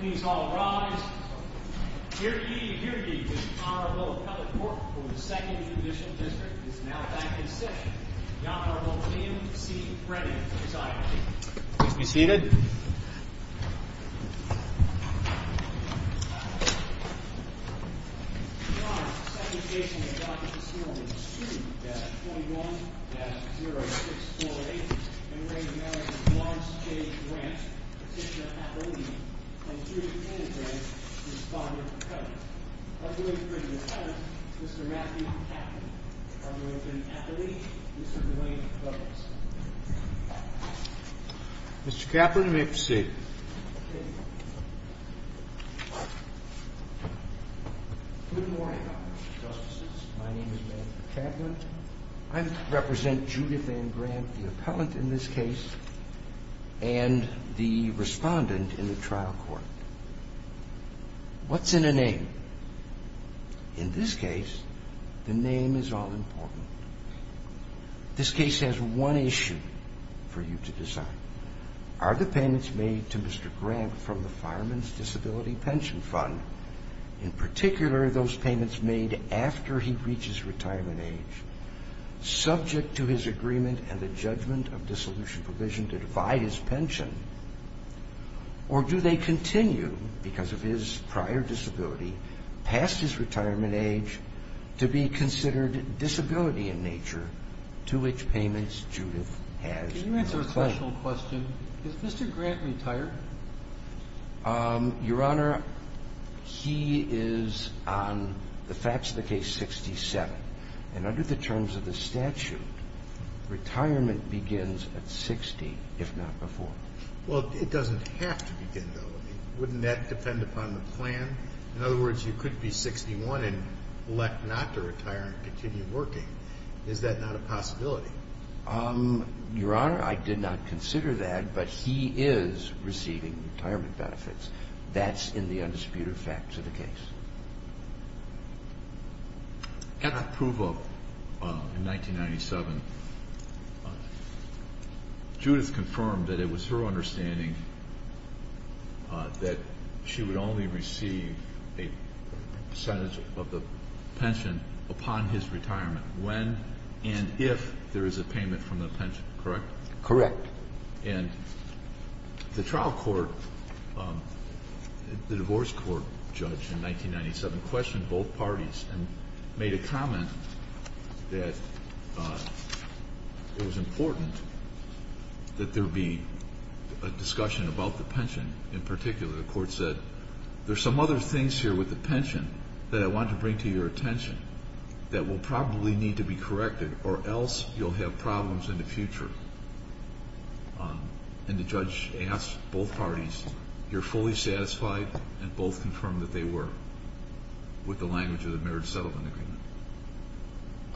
Please all rise. Here he, here he is, Honorable Kelly Port from the 2nd Judicial District is now back in session. Honorable William C. Brennan is I. Please be seated. Your Honor, the second case on the docket this morning is Sue-21-0648, in which Mary Ann Brant, Petitioner-Appellee, and Judith Ann Brant, Respondent-Appellant. I'm going to bring the Appellant, Mr. Matthew Kaplan. I'm going to bring the Appellee, Mr. William Clemens. Mr. Kaplan, you may be seated. Good morning, Justices. My name is Matthew Kaplan. I represent Judith Ann Brant, the Appellant in this case, and the Respondent in the trial court. What's in a name? In this case, the name is all important. This case has one issue for you to decide. Are the payments made to Mr. Grant from the Fireman's Disability Pension Fund, in particular those payments made after he reaches retirement age, subject to his agreement and the judgment of dissolution provision to defy his pension, or do they continue, because of his prior disability, past his retirement age, to be considered disability in nature, to which payments Judith has made? Can you answer a question? Does Mr. Grant retire? Your Honor, he is, on the facts of the case, 67. And under the terms of the statute, retirement begins at 60, if not before. Well, it doesn't have to begin, though. Wouldn't that depend upon the plan? In other words, you could be 61 and elect not to retire and continue working. Is that not a possibility? Your Honor, I did not consider that, but he is receiving retirement benefits. That's in the undisputed facts of the case. At approval in 1997, Judith confirmed that it was her understanding that she would only receive a percentage of the pension upon his retirement. When and if there is a payment from the pension, correct? Correct. And the trial court, the divorce court judge in 1997, questioned both parties and made a comment that it was important that there be a discussion about the pension. In particular, the court said, there are some other things here with the pension that I want to bring to your attention that will probably need to be corrected or else you'll have problems in the future. And the judge asked both parties, you're fully satisfied, and both confirmed that they were with the language of the marriage settlement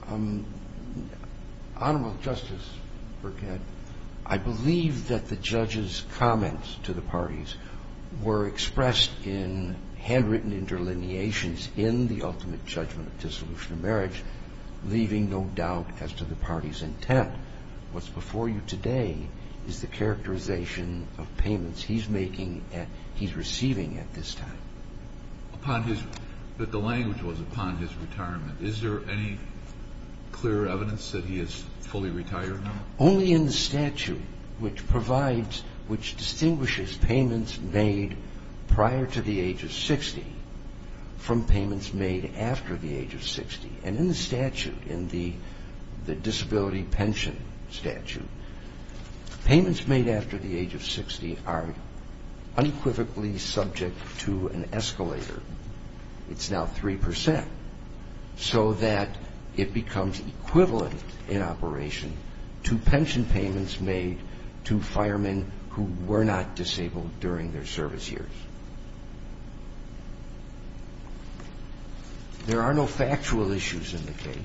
agreement. Honorable Justice Burkett, I believe that the judge's comments to the parties were expressed in handwritten interlineations in the ultimate judgment of dissolution of marriage, leaving no doubt as to the parties' intent. What's before you today is the characterization of payments he's making, he's receiving at this time. But the language was upon his retirement. Is there any clear evidence that he is fully retired? Only in the statute which provides, which distinguishes payments made prior to the age of 60 from payments made after the age of 60. And in the statute, in the disability pension statute, payments made after the age of 60 are unequivocally subject to an escalator. It's now 3%, so that it becomes equivalent in operation to pension payments made to firemen who were not disabled during their service years. There are no factual issues in the case.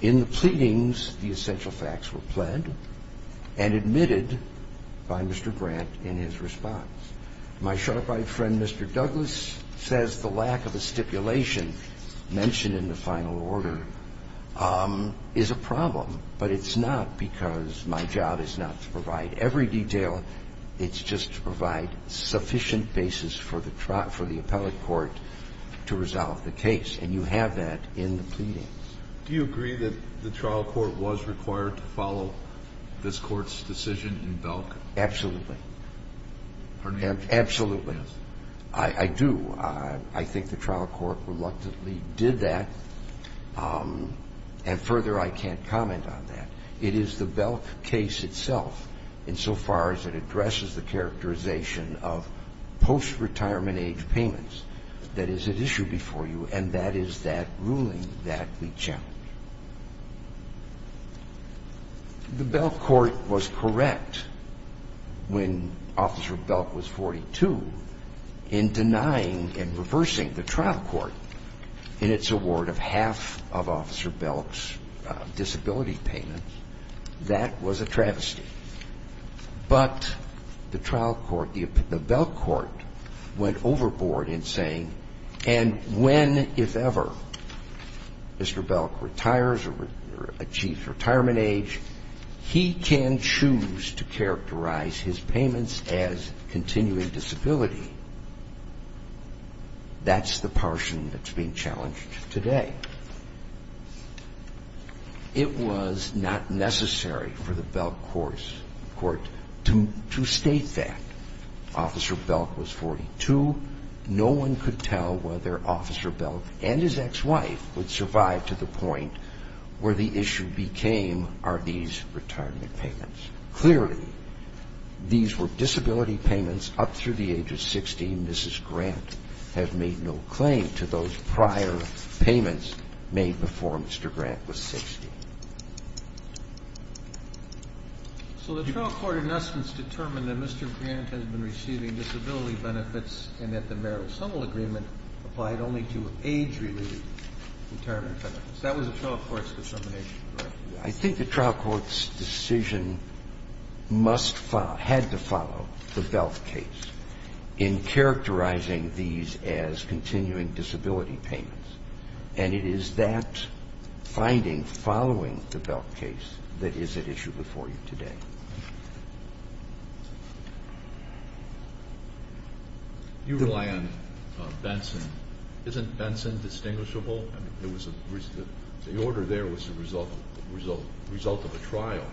In the pleadings, the essential facts were pled and admitted by Mr. Grant in his response. My sharp-eyed friend, Mr. Douglas, says the lack of a stipulation mentioned in the final order is a problem, but it's not because my job is not to provide every detail. It's just to provide sufficient basis for the appellate court to resolve the case. And you have that in the pleadings. Do you agree that the trial court was required to follow this Court's decision in Belk? Absolutely. Pardon me? Absolutely. Yes. I do. I think the trial court reluctantly did that. And further, I can't comment on that. It is the Belk case itself, insofar as it addresses the characterization of post-retirement age payments, that is at issue before you, and that is that ruling that we challenge. The Belk court was correct when Officer Belk was 42 in denying and reversing the trial court in its award of half of Officer Belk's disability payment. That was a travesty. But the trial court, the Belk court, went overboard in saying, and when, if ever, Mr. Belk retires or achieves retirement age, he can choose to characterize his payments as continuing disability. That's the portion that's being challenged today. It was not necessary for the Belk court to state that. No one could tell whether Officer Belk and his ex-wife would survive to the point where the issue became, are these retirement payments? Clearly, these were disability payments up through the age of 60, and Mrs. Grant had made no claim to those prior payments made before Mr. Grant was 60. So the trial court, in essence, determined that Mr. Grant has been receiving disability benefits and that the marital sumo agreement applied only to age-related retirement payments. That was the trial court's determination, correct? I think the trial court's decision had to follow the Belk case in characterizing these as continuing disability payments, and it is that finding following the Belk case that is at issue before you today. You rely on Benson. Isn't Benson distinguishable? I mean, the order there was the result of a trial.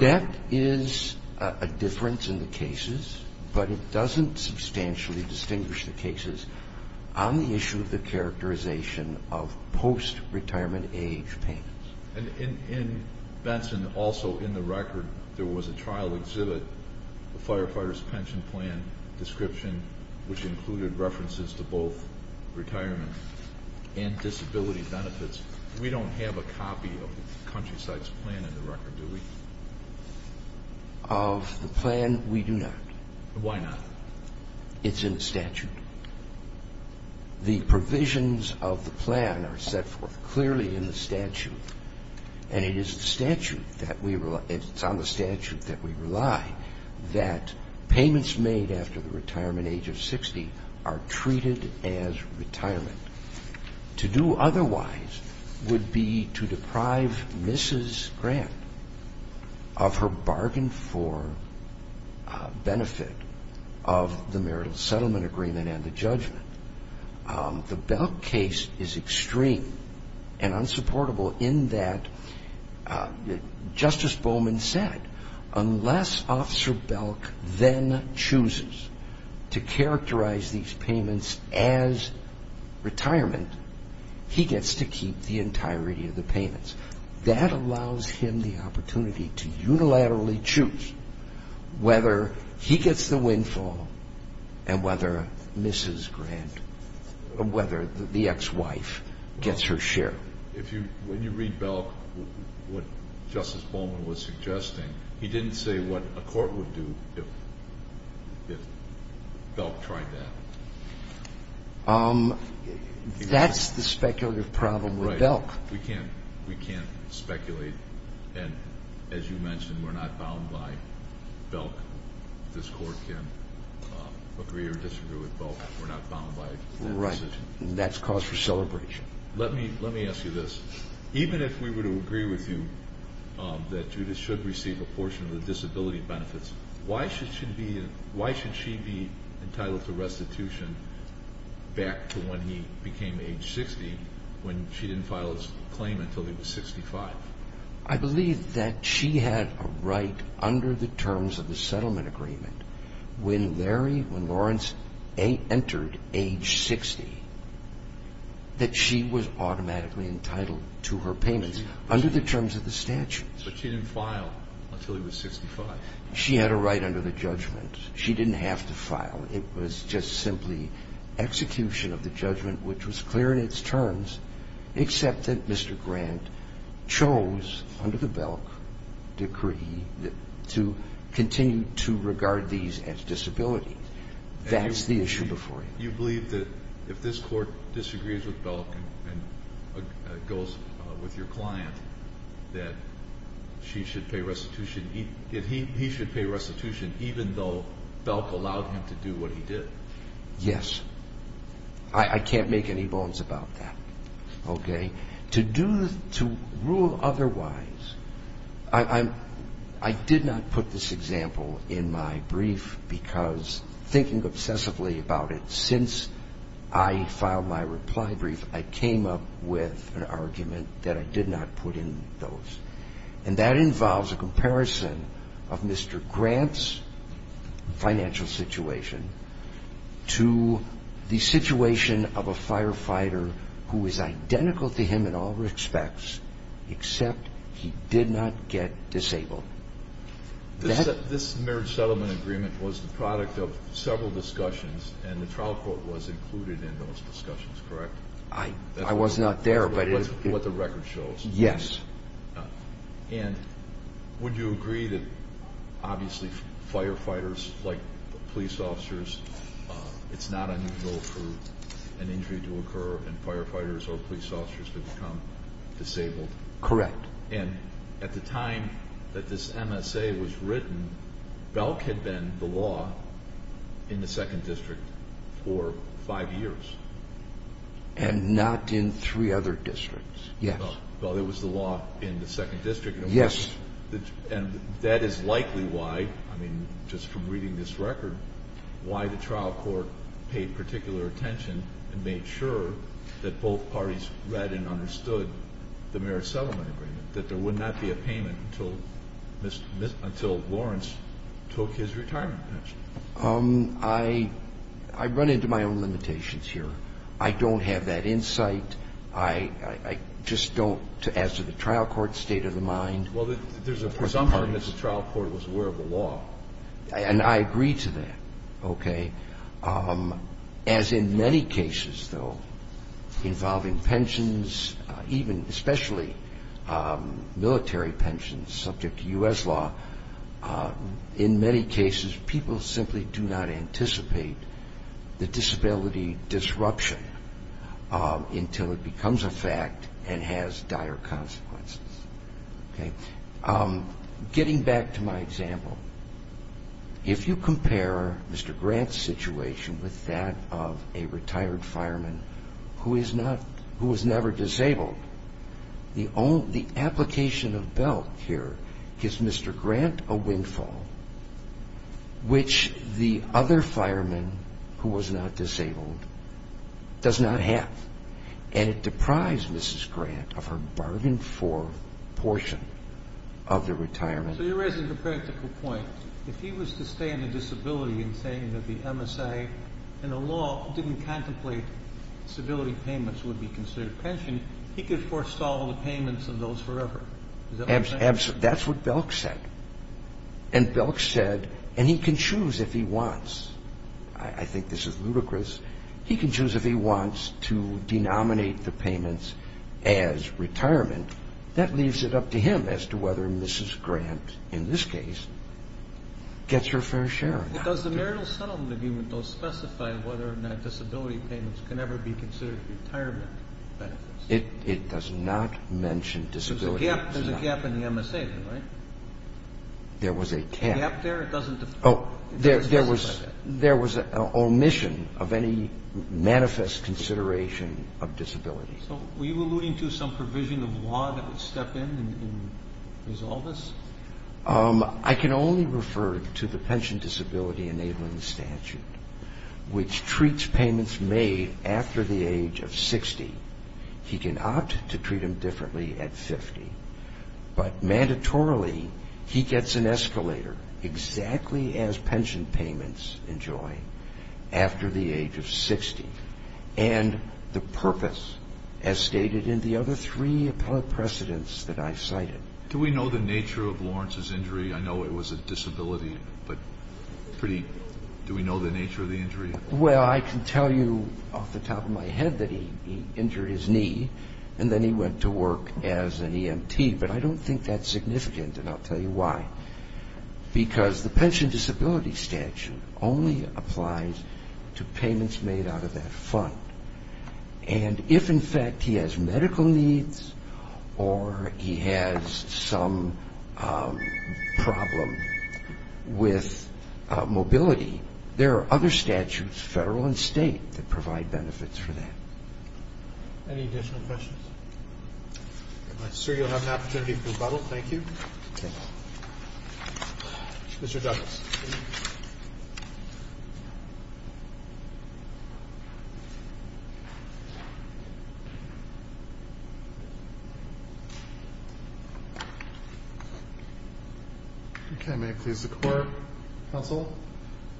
That is a difference in the cases, but it doesn't substantially distinguish the cases on the issue of the characterization of post-retirement age payments. And in Benson, also in the record, there was a trial exhibit, a firefighter's pension plan description, which included references to both retirement and disability benefits. We don't have a copy of Countryside's plan in the record, do we? Of the plan, we do not. Why not? It's in the statute. The provisions of the plan are set forth clearly in the statute, and it is the statute that we rely ó it's on the statute that we rely that payments made after the retirement age of 60 are treated as retirement. To do otherwise would be to deprive Mrs. Grant of her bargain for benefit of the marital settlement agreement and the judgment. The Belk case is extreme and unsupportable in that, Justice Bowman said, unless Officer Belk then chooses to characterize these payments as retirement, he gets to keep the entirety of the payments. That allows him the opportunity to unilaterally choose whether he gets the windfall and whether the ex-wife gets her share. When you read Belk, what Justice Bowman was suggesting, he didn't say what a court would do if Belk tried that. That's the speculative problem with Belk. We can't speculate, and as you mentioned, we're not bound by Belk. This court can agree or disagree with Belk, but we're not bound by that decision. Right, and that's cause for celebration. Let me ask you this. Even if we were to agree with you that Judith should receive a portion of the disability benefits, why should she be entitled to restitution back to when he became age 60 when she didn't file his claim until he was 65? I believe that she had a right under the terms of the settlement agreement when Larry, when Lawrence entered age 60, that she was automatically entitled to her payments under the terms of the statute. But she didn't file until he was 65. She had a right under the judgment. She didn't have to file. It was just simply execution of the judgment, which was clear in its terms, except that Mr. Grant chose under the Belk decree to continue to regard these as disabilities. That's the issue before you. You believe that if this court disagrees with Belk and goes with your client, that he should pay restitution even though Belk allowed him to do what he did? Yes. I can't make any bones about that. To rule otherwise, I did not put this example in my brief because thinking obsessively about it since I filed my reply brief, I came up with an argument that I did not put in those. And that involves a comparison of Mr. Grant's financial situation to the situation of a firefighter who is identical to him in all respects, except he did not get disabled. This marriage settlement agreement was the product of several discussions, and the trial court was included in those discussions, correct? I was not there, but it was. That's what the record shows. Yes. And would you agree that, obviously, firefighters, like police officers, it's not unusual for an injury to occur and firefighters or police officers to become disabled? Correct. And at the time that this MSA was written, Belk had been the law in the 2nd District for five years. And not in three other districts, yes. Well, there was the law in the 2nd District. Yes. And that is likely why, I mean, just from reading this record, why the trial court paid particular attention and made sure that both parties read and understood the marriage settlement agreement, that there would not be a payment until Lawrence took his retirement pension. I run into my own limitations here. I don't have that insight. I just don't, as to the trial court's state of the mind. Well, there's a presumption that the trial court was aware of the law. And I agree to that, okay? As in many cases, though, involving pensions, even especially military pensions subject to U.S. law, in many cases people simply do not anticipate the disability disruption until it becomes a fact and has dire consequences, okay? Getting back to my example, if you compare Mr. Grant's situation with that of a retired fireman who was never disabled, the application of Belk here gives Mr. Grant a windfall, which the other fireman who was not disabled does not have. And it deprives Mrs. Grant of her bargained-for portion of the retirement. So you're raising a practical point. If he was to stay on a disability and saying that the MSA and the law didn't contemplate disability payments would be considered pension, he could forestall the payments of those forever. Absolutely. That's what Belk said. And Belk said, and he can choose if he wants. I think this is ludicrous. He can choose if he wants to denominate the payments as retirement. That leaves it up to him as to whether Mrs. Grant, in this case, gets her fair share. But does the marital settlement agreement, though, specify whether or not disability payments can ever be considered retirement benefits? It does not mention disability. There's a gap in the MSA, though, right? There was a gap. A gap there? Oh, there was an omission of any manifest consideration of disability. So were you alluding to some provision of law that would step in and resolve this? I can only refer to the pension disability enabling statute, which treats payments made after the age of 60. He can opt to treat them differently at 50, but mandatorily he gets an escalator exactly as pension payments enjoy after the age of 60. And the purpose, as stated in the other three appellate precedents that I cited. Do we know the nature of Lawrence's injury? I know it was a disability, but pretty do we know the nature of the injury? Well, I can tell you off the top of my head that he injured his knee, and then he went to work as an EMT. But I don't think that's significant, and I'll tell you why. Because the pension disability statute only applies to payments made out of that fund. And if, in fact, he has medical needs or he has some problem with mobility, there are other statutes, federal and state, that provide benefits for that. Any additional questions? I'm sure you'll have an opportunity for rebuttal. Thank you. Mr. Douglas. Thank you. Okay, may it please the Court, counsel?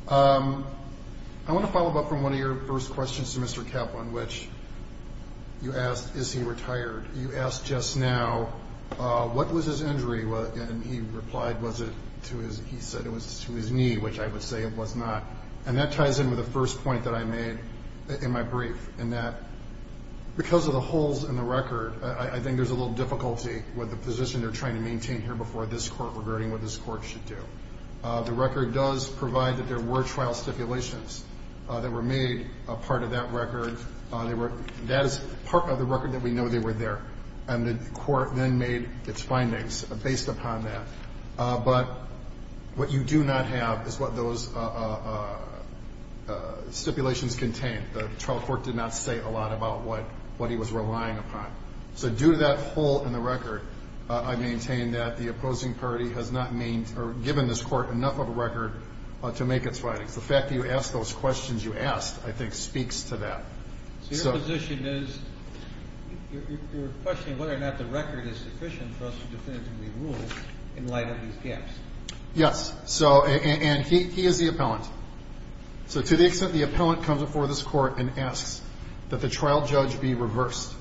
I want to follow up on one of your first questions to Mr. Kaplan, which you asked, is he retired? You asked just now, what was his injury? And he replied, he said it was to his knee, which I would say it was not. And that ties in with the first point that I made in my brief, in that because of the holes in the record, I think there's a little difficulty with the position they're trying to maintain here before this Court regarding what this Court should do. The record does provide that there were trial stipulations that were made a part of that record. That is part of the record that we know they were there. And the Court then made its findings based upon that. But what you do not have is what those stipulations contain. The trial court did not say a lot about what he was relying upon. So due to that hole in the record, I maintain that the opposing party has not given this Court enough of a record to make its findings. The fact that you asked those questions you asked, I think, speaks to that. So your position is you're questioning whether or not the record is sufficient for us to definitively rule in light of these gaps. Yes. And he is the appellant. So to the extent the appellant comes before this Court and asks that the trial judge be reversed,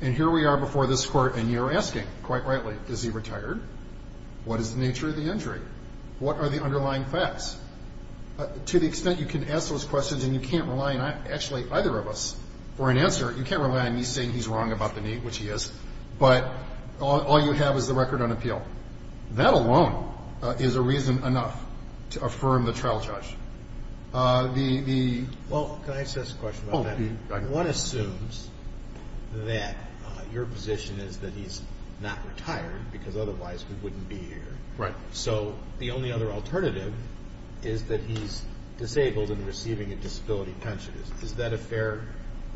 and here we are before this Court, and you're asking, quite rightly, is he retired? What is the nature of the injury? What are the underlying facts? To the extent you can ask those questions and you can't rely on actually either of us for an answer, you can't rely on me saying he's wrong about the need, which he is. But all you have is the record on appeal. That alone is a reason enough to affirm the trial judge. Well, can I ask just a question about that? One assumes that your position is that he's not retired because otherwise we wouldn't be here. Right. So the only other alternative is that he's disabled and receiving a disability pension. Is that a fair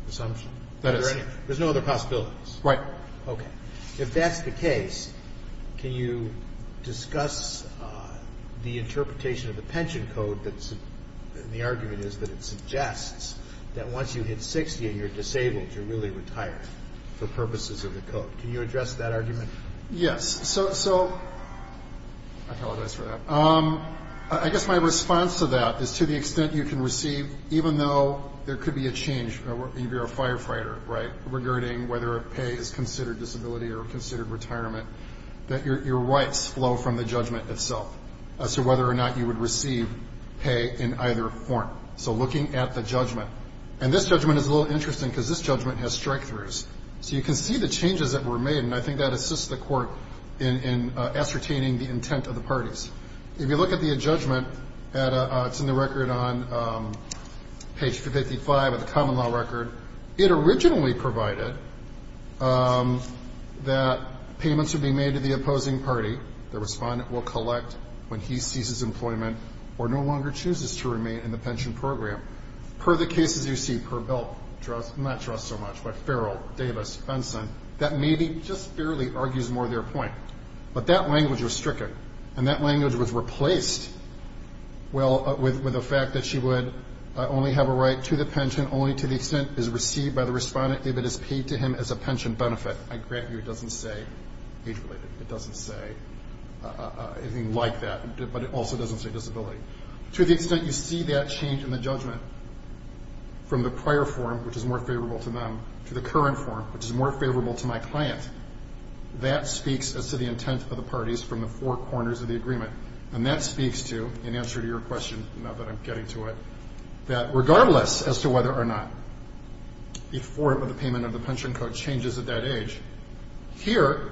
assumption? That is. There's no other possibilities? Right. Okay. If that's the case, can you discuss the interpretation of the pension code, and the argument is that it suggests that once you hit 60 and you're disabled, you're really retired for purposes of the code. Can you address that argument? Yes. So I apologize for that. I guess my response to that is to the extent you can receive, even though there could be a change if you're a firefighter, right, regarding whether pay is considered disability or considered retirement, that your rights flow from the judgment itself. So whether or not you would receive pay in either form. So looking at the judgment. And this judgment is a little interesting because this judgment has strikethroughs. So you can see the changes that were made, and I think that assists the court in ascertaining the intent of the parties. If you look at the judgment, it's in the record on page 55 of the common law record. It originally provided that payments would be made to the opposing party. The respondent will collect when he ceases employment or no longer chooses to remain in the pension program. Per the cases you see, per Bill, not trust so much, but Farrell, Davis, Benson, that maybe just barely argues more of their point. But that language was stricken, and that language was replaced with the fact that she would only have a right to the pension only to the extent it is received by the respondent if it is paid to him as a pension benefit. I grant you it doesn't say age-related. It doesn't say anything like that. But it also doesn't say disability. To the extent you see that change in the judgment from the prior form, which is more favorable to them, to the current form, which is more favorable to my client, that speaks as to the intent of the parties from the four corners of the agreement. And that speaks to, in answer to your question, now that I'm getting to it, that regardless as to whether or not the form of the payment of the pension code changes at that age, here,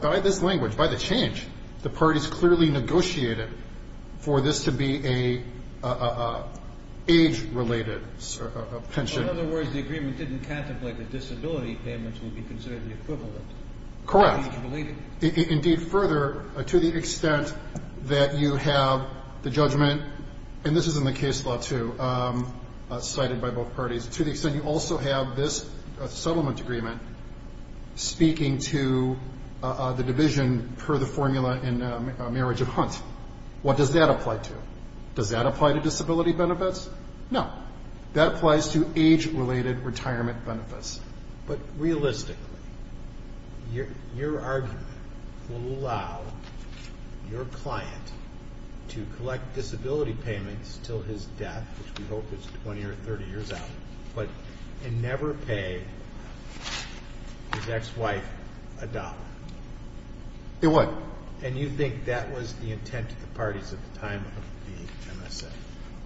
by this language, by the change, the parties clearly negotiated for this to be an age-related pension. In other words, the agreement didn't contemplate that disability payments would be considered the equivalent. Correct. Indeed, further, to the extent that you have the judgment, and this is in the case law, too, cited by both parties, to the extent you also have this settlement agreement speaking to the division per the formula in Marriage of Hunt. What does that apply to? Does that apply to disability benefits? No. That applies to age-related retirement benefits. But realistically, your argument will allow your client to collect disability payments until his death, which we hope is 20 or 30 years out, and never pay his ex-wife a dollar. It would. And you think that was the intent of the parties at the time of the MSA?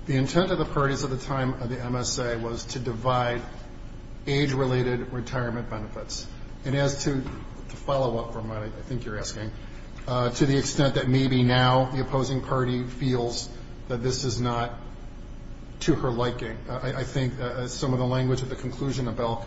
The intent of the parties at the time of the MSA was to divide age-related retirement benefits. And as to the follow-up from what I think you're asking, to the extent that maybe now the opposing party feels that this is not to her liking. I think some of the language at the conclusion of Belk,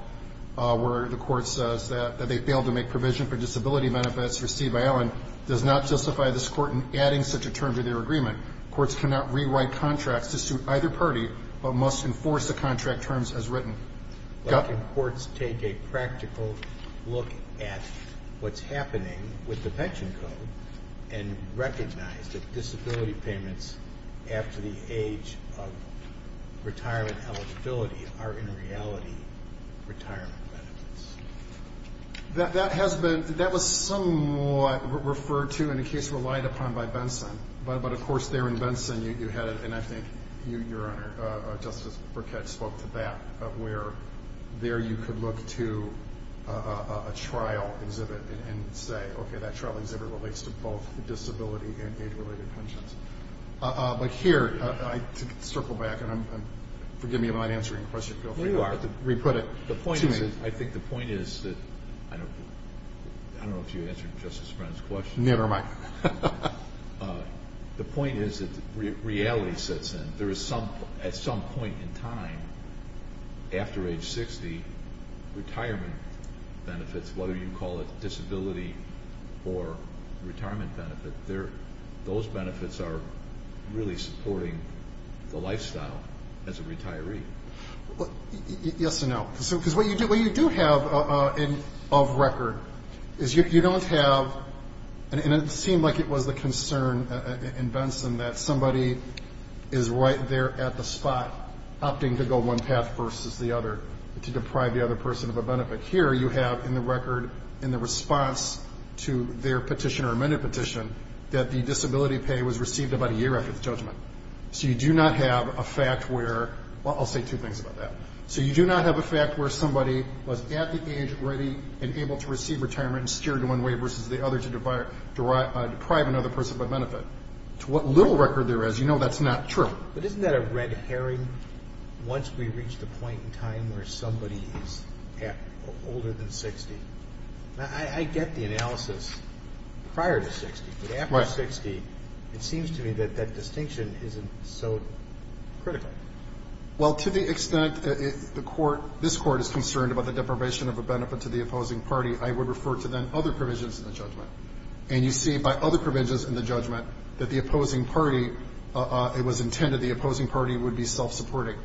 where the Court says that they failed to make provision for disability benefits received by Owen, does not justify this Court in adding such a term to their agreement. Courts cannot rewrite contracts to suit either party, but must enforce the contract terms as written. But can courts take a practical look at what's happening with the pension code and recognize that disability payments after the age of retirement eligibility are in reality retirement benefits? That was somewhat referred to in a case relied upon by Benson. But, of course, there in Benson you had it, and I think, Your Honor, Justice Burkett spoke to that, where there you could look to a trial exhibit and say, okay, that trial exhibit relates to both disability and age-related pensions. But here, to circle back, and forgive me if I'm not answering the question, feel free to re-put it. I think the point is that I don't know if you answered Justice Brennan's question. Never mind. The point is that reality sits in. There is at some point in time, after age 60, retirement benefits, whether you call it disability or retirement benefit, those benefits are really supporting the lifestyle as a retiree. Yes and no. Because what you do have of record is you don't have, and it seemed like it was the concern in Benson that somebody is right there at the spot, opting to go one path versus the other, to deprive the other person of a benefit. Here you have in the record, in the response to their petition or amended petition, that the disability pay was received about a year after the judgment. So you do not have a fact where, well, I'll say two things about that. So you do not have a fact where somebody was at the age ready and able to receive retirement and steered one way versus the other to deprive another person of a benefit. To what little record there is, you know that's not true. But isn't that a red herring once we reach the point in time where somebody is older than 60? I get the analysis prior to 60, but after 60, it seems to me that that distinction isn't so critical. Well, to the extent the Court, this Court, is concerned about the deprivation of a benefit to the opposing party, I would refer to then other provisions in the judgment. And you see by other provisions in the judgment that the opposing party, it was intended the opposing party would be self-supporting.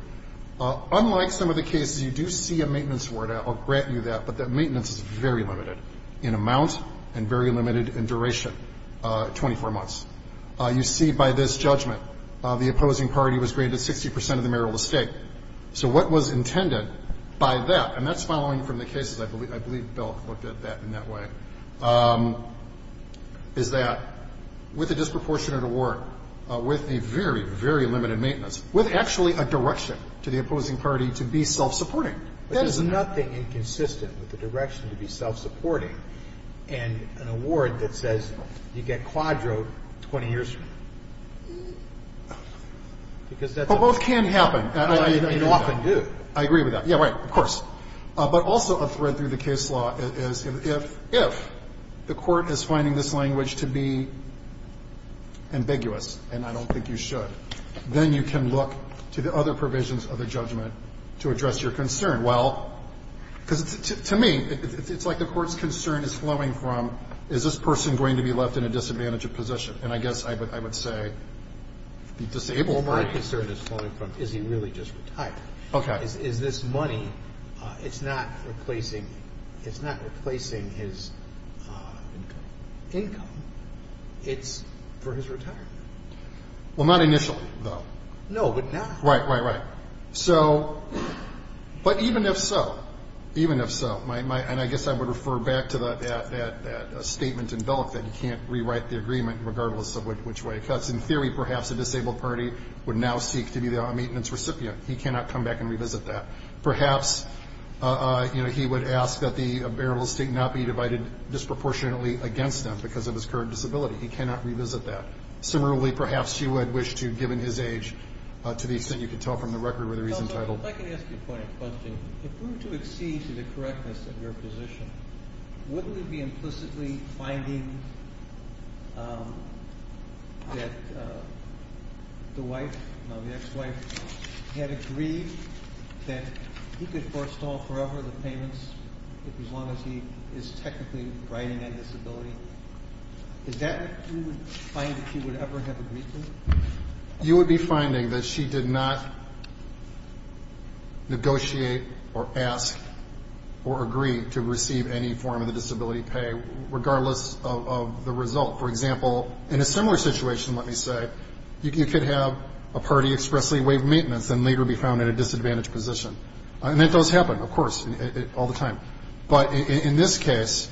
Unlike some of the cases, you do see a maintenance warrant. I'll grant you that. But that maintenance is very limited in amount and very limited in duration, 24 months. You see by this judgment, the opposing party was granted 60 percent of the marital estate. So what was intended by that, and that's following from the cases, I believe Bill looked at that in that way, is that with a disproportionate award, with a very, very limited maintenance, with actually a direction to the opposing party to be self-supporting. But there's nothing inconsistent with the direction to be self-supporting And an award that says you get quadro 20 years from now. Because that's a... But both can happen. You often do. I agree with that. Yeah, right, of course. But also a thread through the case law is if the Court is finding this language to be ambiguous, and I don't think you should, then you can look to the other provisions of the judgment to address your concern. Well, because to me, it's like the Court's concern is flowing from, is this person going to be left in a disadvantaged position? And I guess I would say the disabled person... Well, my concern is flowing from, is he really just retired? Okay. Is this money, it's not replacing his income. It's for his retirement. Well, not initially, though. No, but now... Right, right, right. But even if so, even if so, and I guess I would refer back to that statement in Belk that you can't rewrite the agreement regardless of which way it cuts. In theory, perhaps a disabled party would now seek to be a maintenance recipient. He cannot come back and revisit that. Perhaps he would ask that the burial estate not be divided disproportionately against him because of his current disability. He cannot revisit that. Similarly, perhaps he would wish to, given his age, to the extent you can tell from the record where he's entitled. If I can ask you a point of question. If we were to accede to the correctness of your position, wouldn't it be implicitly finding that the wife, the ex-wife, had agreed that he could forestall forever the payments as long as he is technically riding a disability? Is that what you would find that you would ever have agreed to? You would be finding that she did not negotiate or ask or agree to receive any form of the disability pay regardless of the result. For example, in a similar situation, let me say, you could have a party expressly waive maintenance and later be found in a disadvantaged position. And that does happen, of course, all the time. But in this case,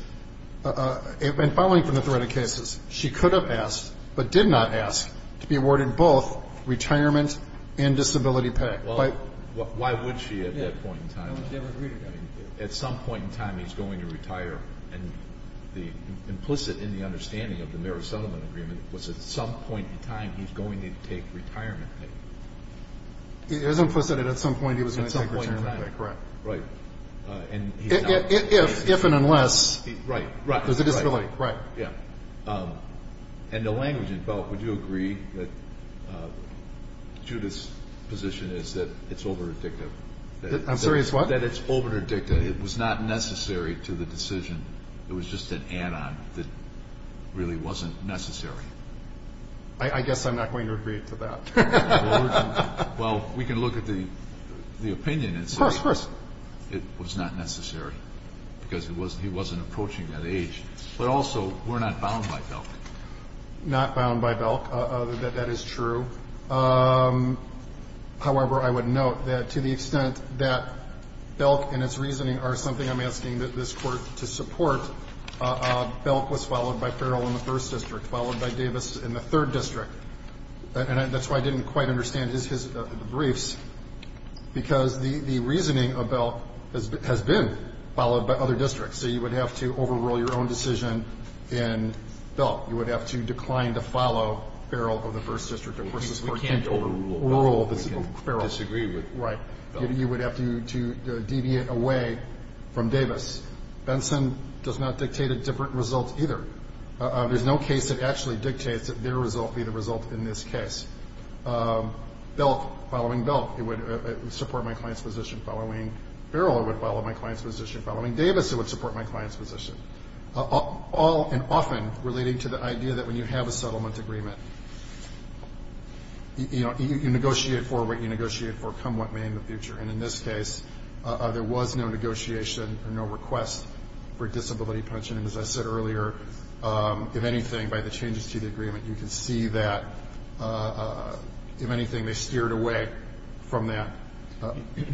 and following from the threat of cases, she could have asked, but did not ask, to be awarded both retirement and disability pay. Why would she at that point in time? At some point in time he's going to retire. And implicit in the understanding of the marriage settlement agreement was at some point in time he's going to take retirement. It is implicit that at some point he was going to take retirement. Right. If and unless there's a disability. Right. Yeah. And the language involved, would you agree that Judith's position is that it's over addictive? I'm sorry, it's what? That it's over addictive. It was not necessary to the decision. It was just an add-on that really wasn't necessary. I guess I'm not going to agree to that. Well, we can look at the opinion and say it was not necessary because he wasn't approaching that age. But also, we're not bound by Belk. Not bound by Belk. That is true. However, I would note that to the extent that Belk and its reasoning are something I'm asking this Court to support, Belk was followed by Farrell in the first district, followed by Davis in the third district. And that's why I didn't quite understand his briefs, because the reasoning of Belk has been followed by other districts. So you would have to overrule your own decision in Belk. You would have to decline to follow Farrell of the first district. We can't overrule Belk. We can't disagree with Belk. Right. You would have to deviate away from Davis. Benson does not dictate a different result either. There's no case that actually dictates that their result be the result in this case. Belk, following Belk, it would support my client's position following Farrell. It would follow my client's position following Davis. It would support my client's position. All and often relating to the idea that when you have a settlement agreement, you negotiate for what you negotiate for, come what may in the future. And in this case, there was no negotiation or no request for disability pension. And as I said earlier, if anything, by the changes to the agreement, you can see that, if anything, they steered away from that.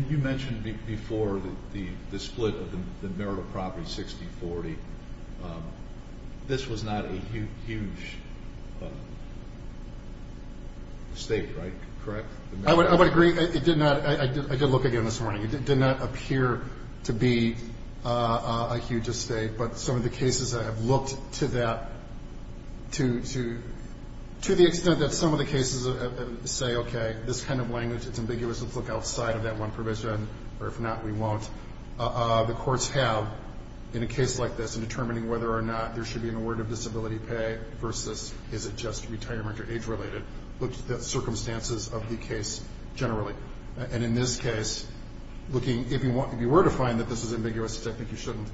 You mentioned before the split of the marital property, 60-40. This was not a huge estate, right? Correct? I would agree. I did look at it this morning. It did not appear to be a huge estate, but some of the cases I have looked to that to the extent that some of the cases say, okay, this kind of language, it's ambiguous, let's look outside of that one provision. Or if not, we won't. The courts have, in a case like this, in determining whether or not there should be an award of disability pay versus is it just retirement or age-related, looked at the circumstances of the case generally. And in this case, looking, if you were to find that this is ambiguous, I think you shouldn't.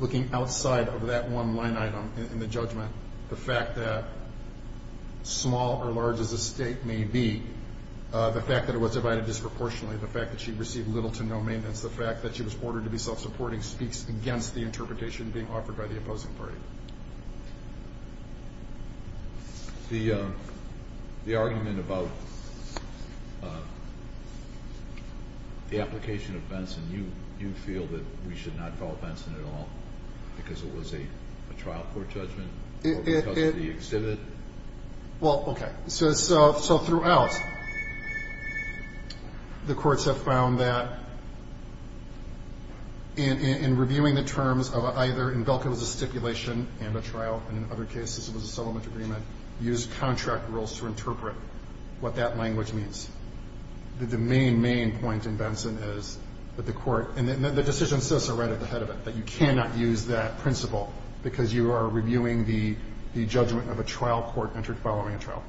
Looking outside of that one line item in the judgment, the fact that small or large as the estate may be, the fact that it was divided disproportionately, the fact that she received little to no maintenance, the fact that she was ordered to be self-supporting, speaks against the interpretation being offered by the opposing party. The argument about the application of Benson, you feel that we should not call Benson at all because it was a trial court judgment or because of the exhibit? Well, okay. So throughout, the courts have found that in reviewing the terms of either, in Belka it was a stipulation and a trial, and in other cases it was a settlement agreement, used contract rules to interpret what that language means. The main, main point in Benson is that the court, and the decision says so right at the head of it, that you cannot use that principle because you are reviewing the judgment of a trial court entered following a trial.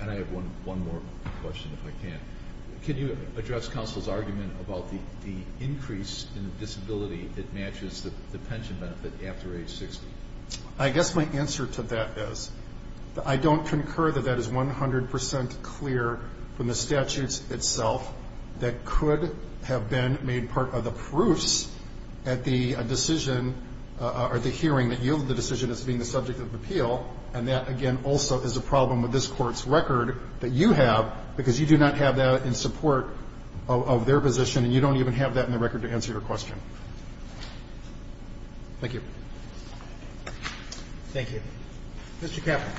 And I have one more question, if I can. Can you address counsel's argument about the increase in disability that matches the pension benefit after age 60? I guess my answer to that is I don't concur that that is 100 percent clear from the statutes itself that could have been made part of the proofs at the decision or the hearing that yielded the decision as being the subject of appeal. And that, again, also is a problem with this Court's record that you have because you do not have that in support of their position, and you don't even have that in the record to answer your question. Thank you. Thank you. Mr. Kaplan.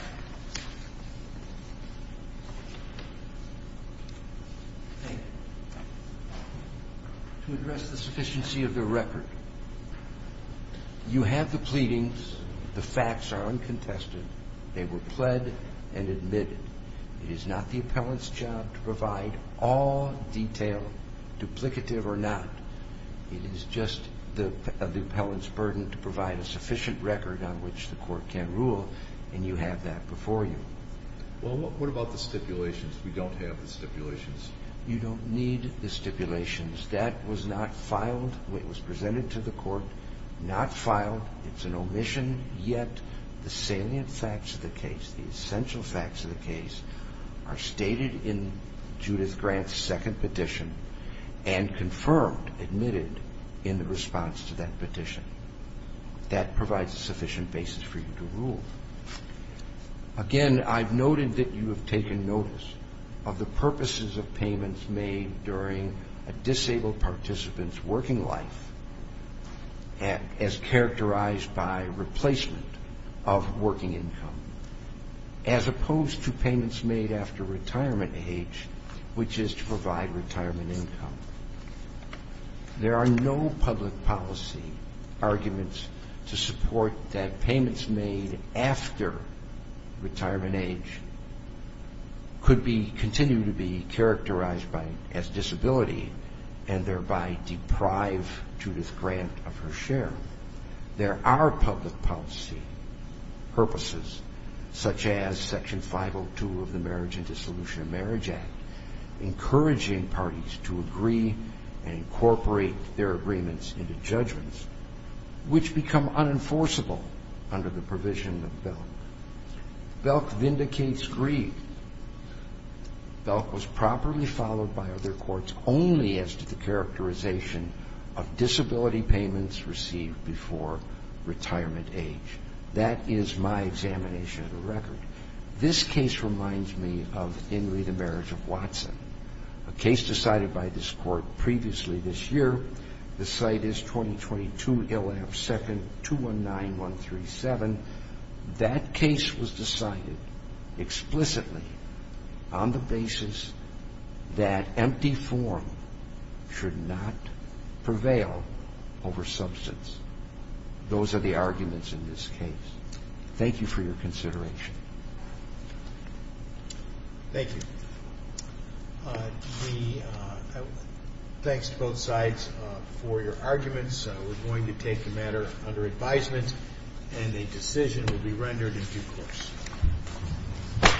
Thank you. To address the sufficiency of the record, you have the pleadings. The facts are uncontested. They were pled and admitted. It is not the appellant's job to provide all detail, duplicative or not. It is just the appellant's burden to provide a sufficient record on which the Court can rule, and you have that before you. Well, what about the stipulations? We don't have the stipulations. You don't need the stipulations. That was not filed. It was presented to the Court, not filed. It's an omission. Yet the salient facts of the case, the essential facts of the case, are stated in Judith Grant's second petition and confirmed, admitted, in the response to that petition. That provides a sufficient basis for you to rule. Again, I've noted that you have taken notice of the purposes of payments made during a disabled participant's working life as characterized by replacement of working income. As opposed to payments made after retirement age, which is to provide retirement income. There are no public policy arguments to support that payments made after retirement age could continue to be characterized as disability and thereby deprive Judith Grant of her share. There are public policy purposes, such as Section 502 of the Marriage and Dissolution of Marriage Act, encouraging parties to agree and incorporate their agreements into judgments, which become unenforceable under the provision of BELC. BELC vindicates greed. BELC was properly followed by other courts only as to the characterization of disability payments received before retirement age. That is my examination of the record. This case reminds me of Henry, the Marriage of Watson, a case decided by this Court previously this year. The site is 2022, Ill. F. 2nd, 219-137. That case was decided explicitly on the basis that empty form should not prevail over substance. Those are the arguments in this case. Thank you for your consideration. Thank you. Thanks to both sides for your arguments. We're going to take the matter under advisement, and a decision will be rendered in due course.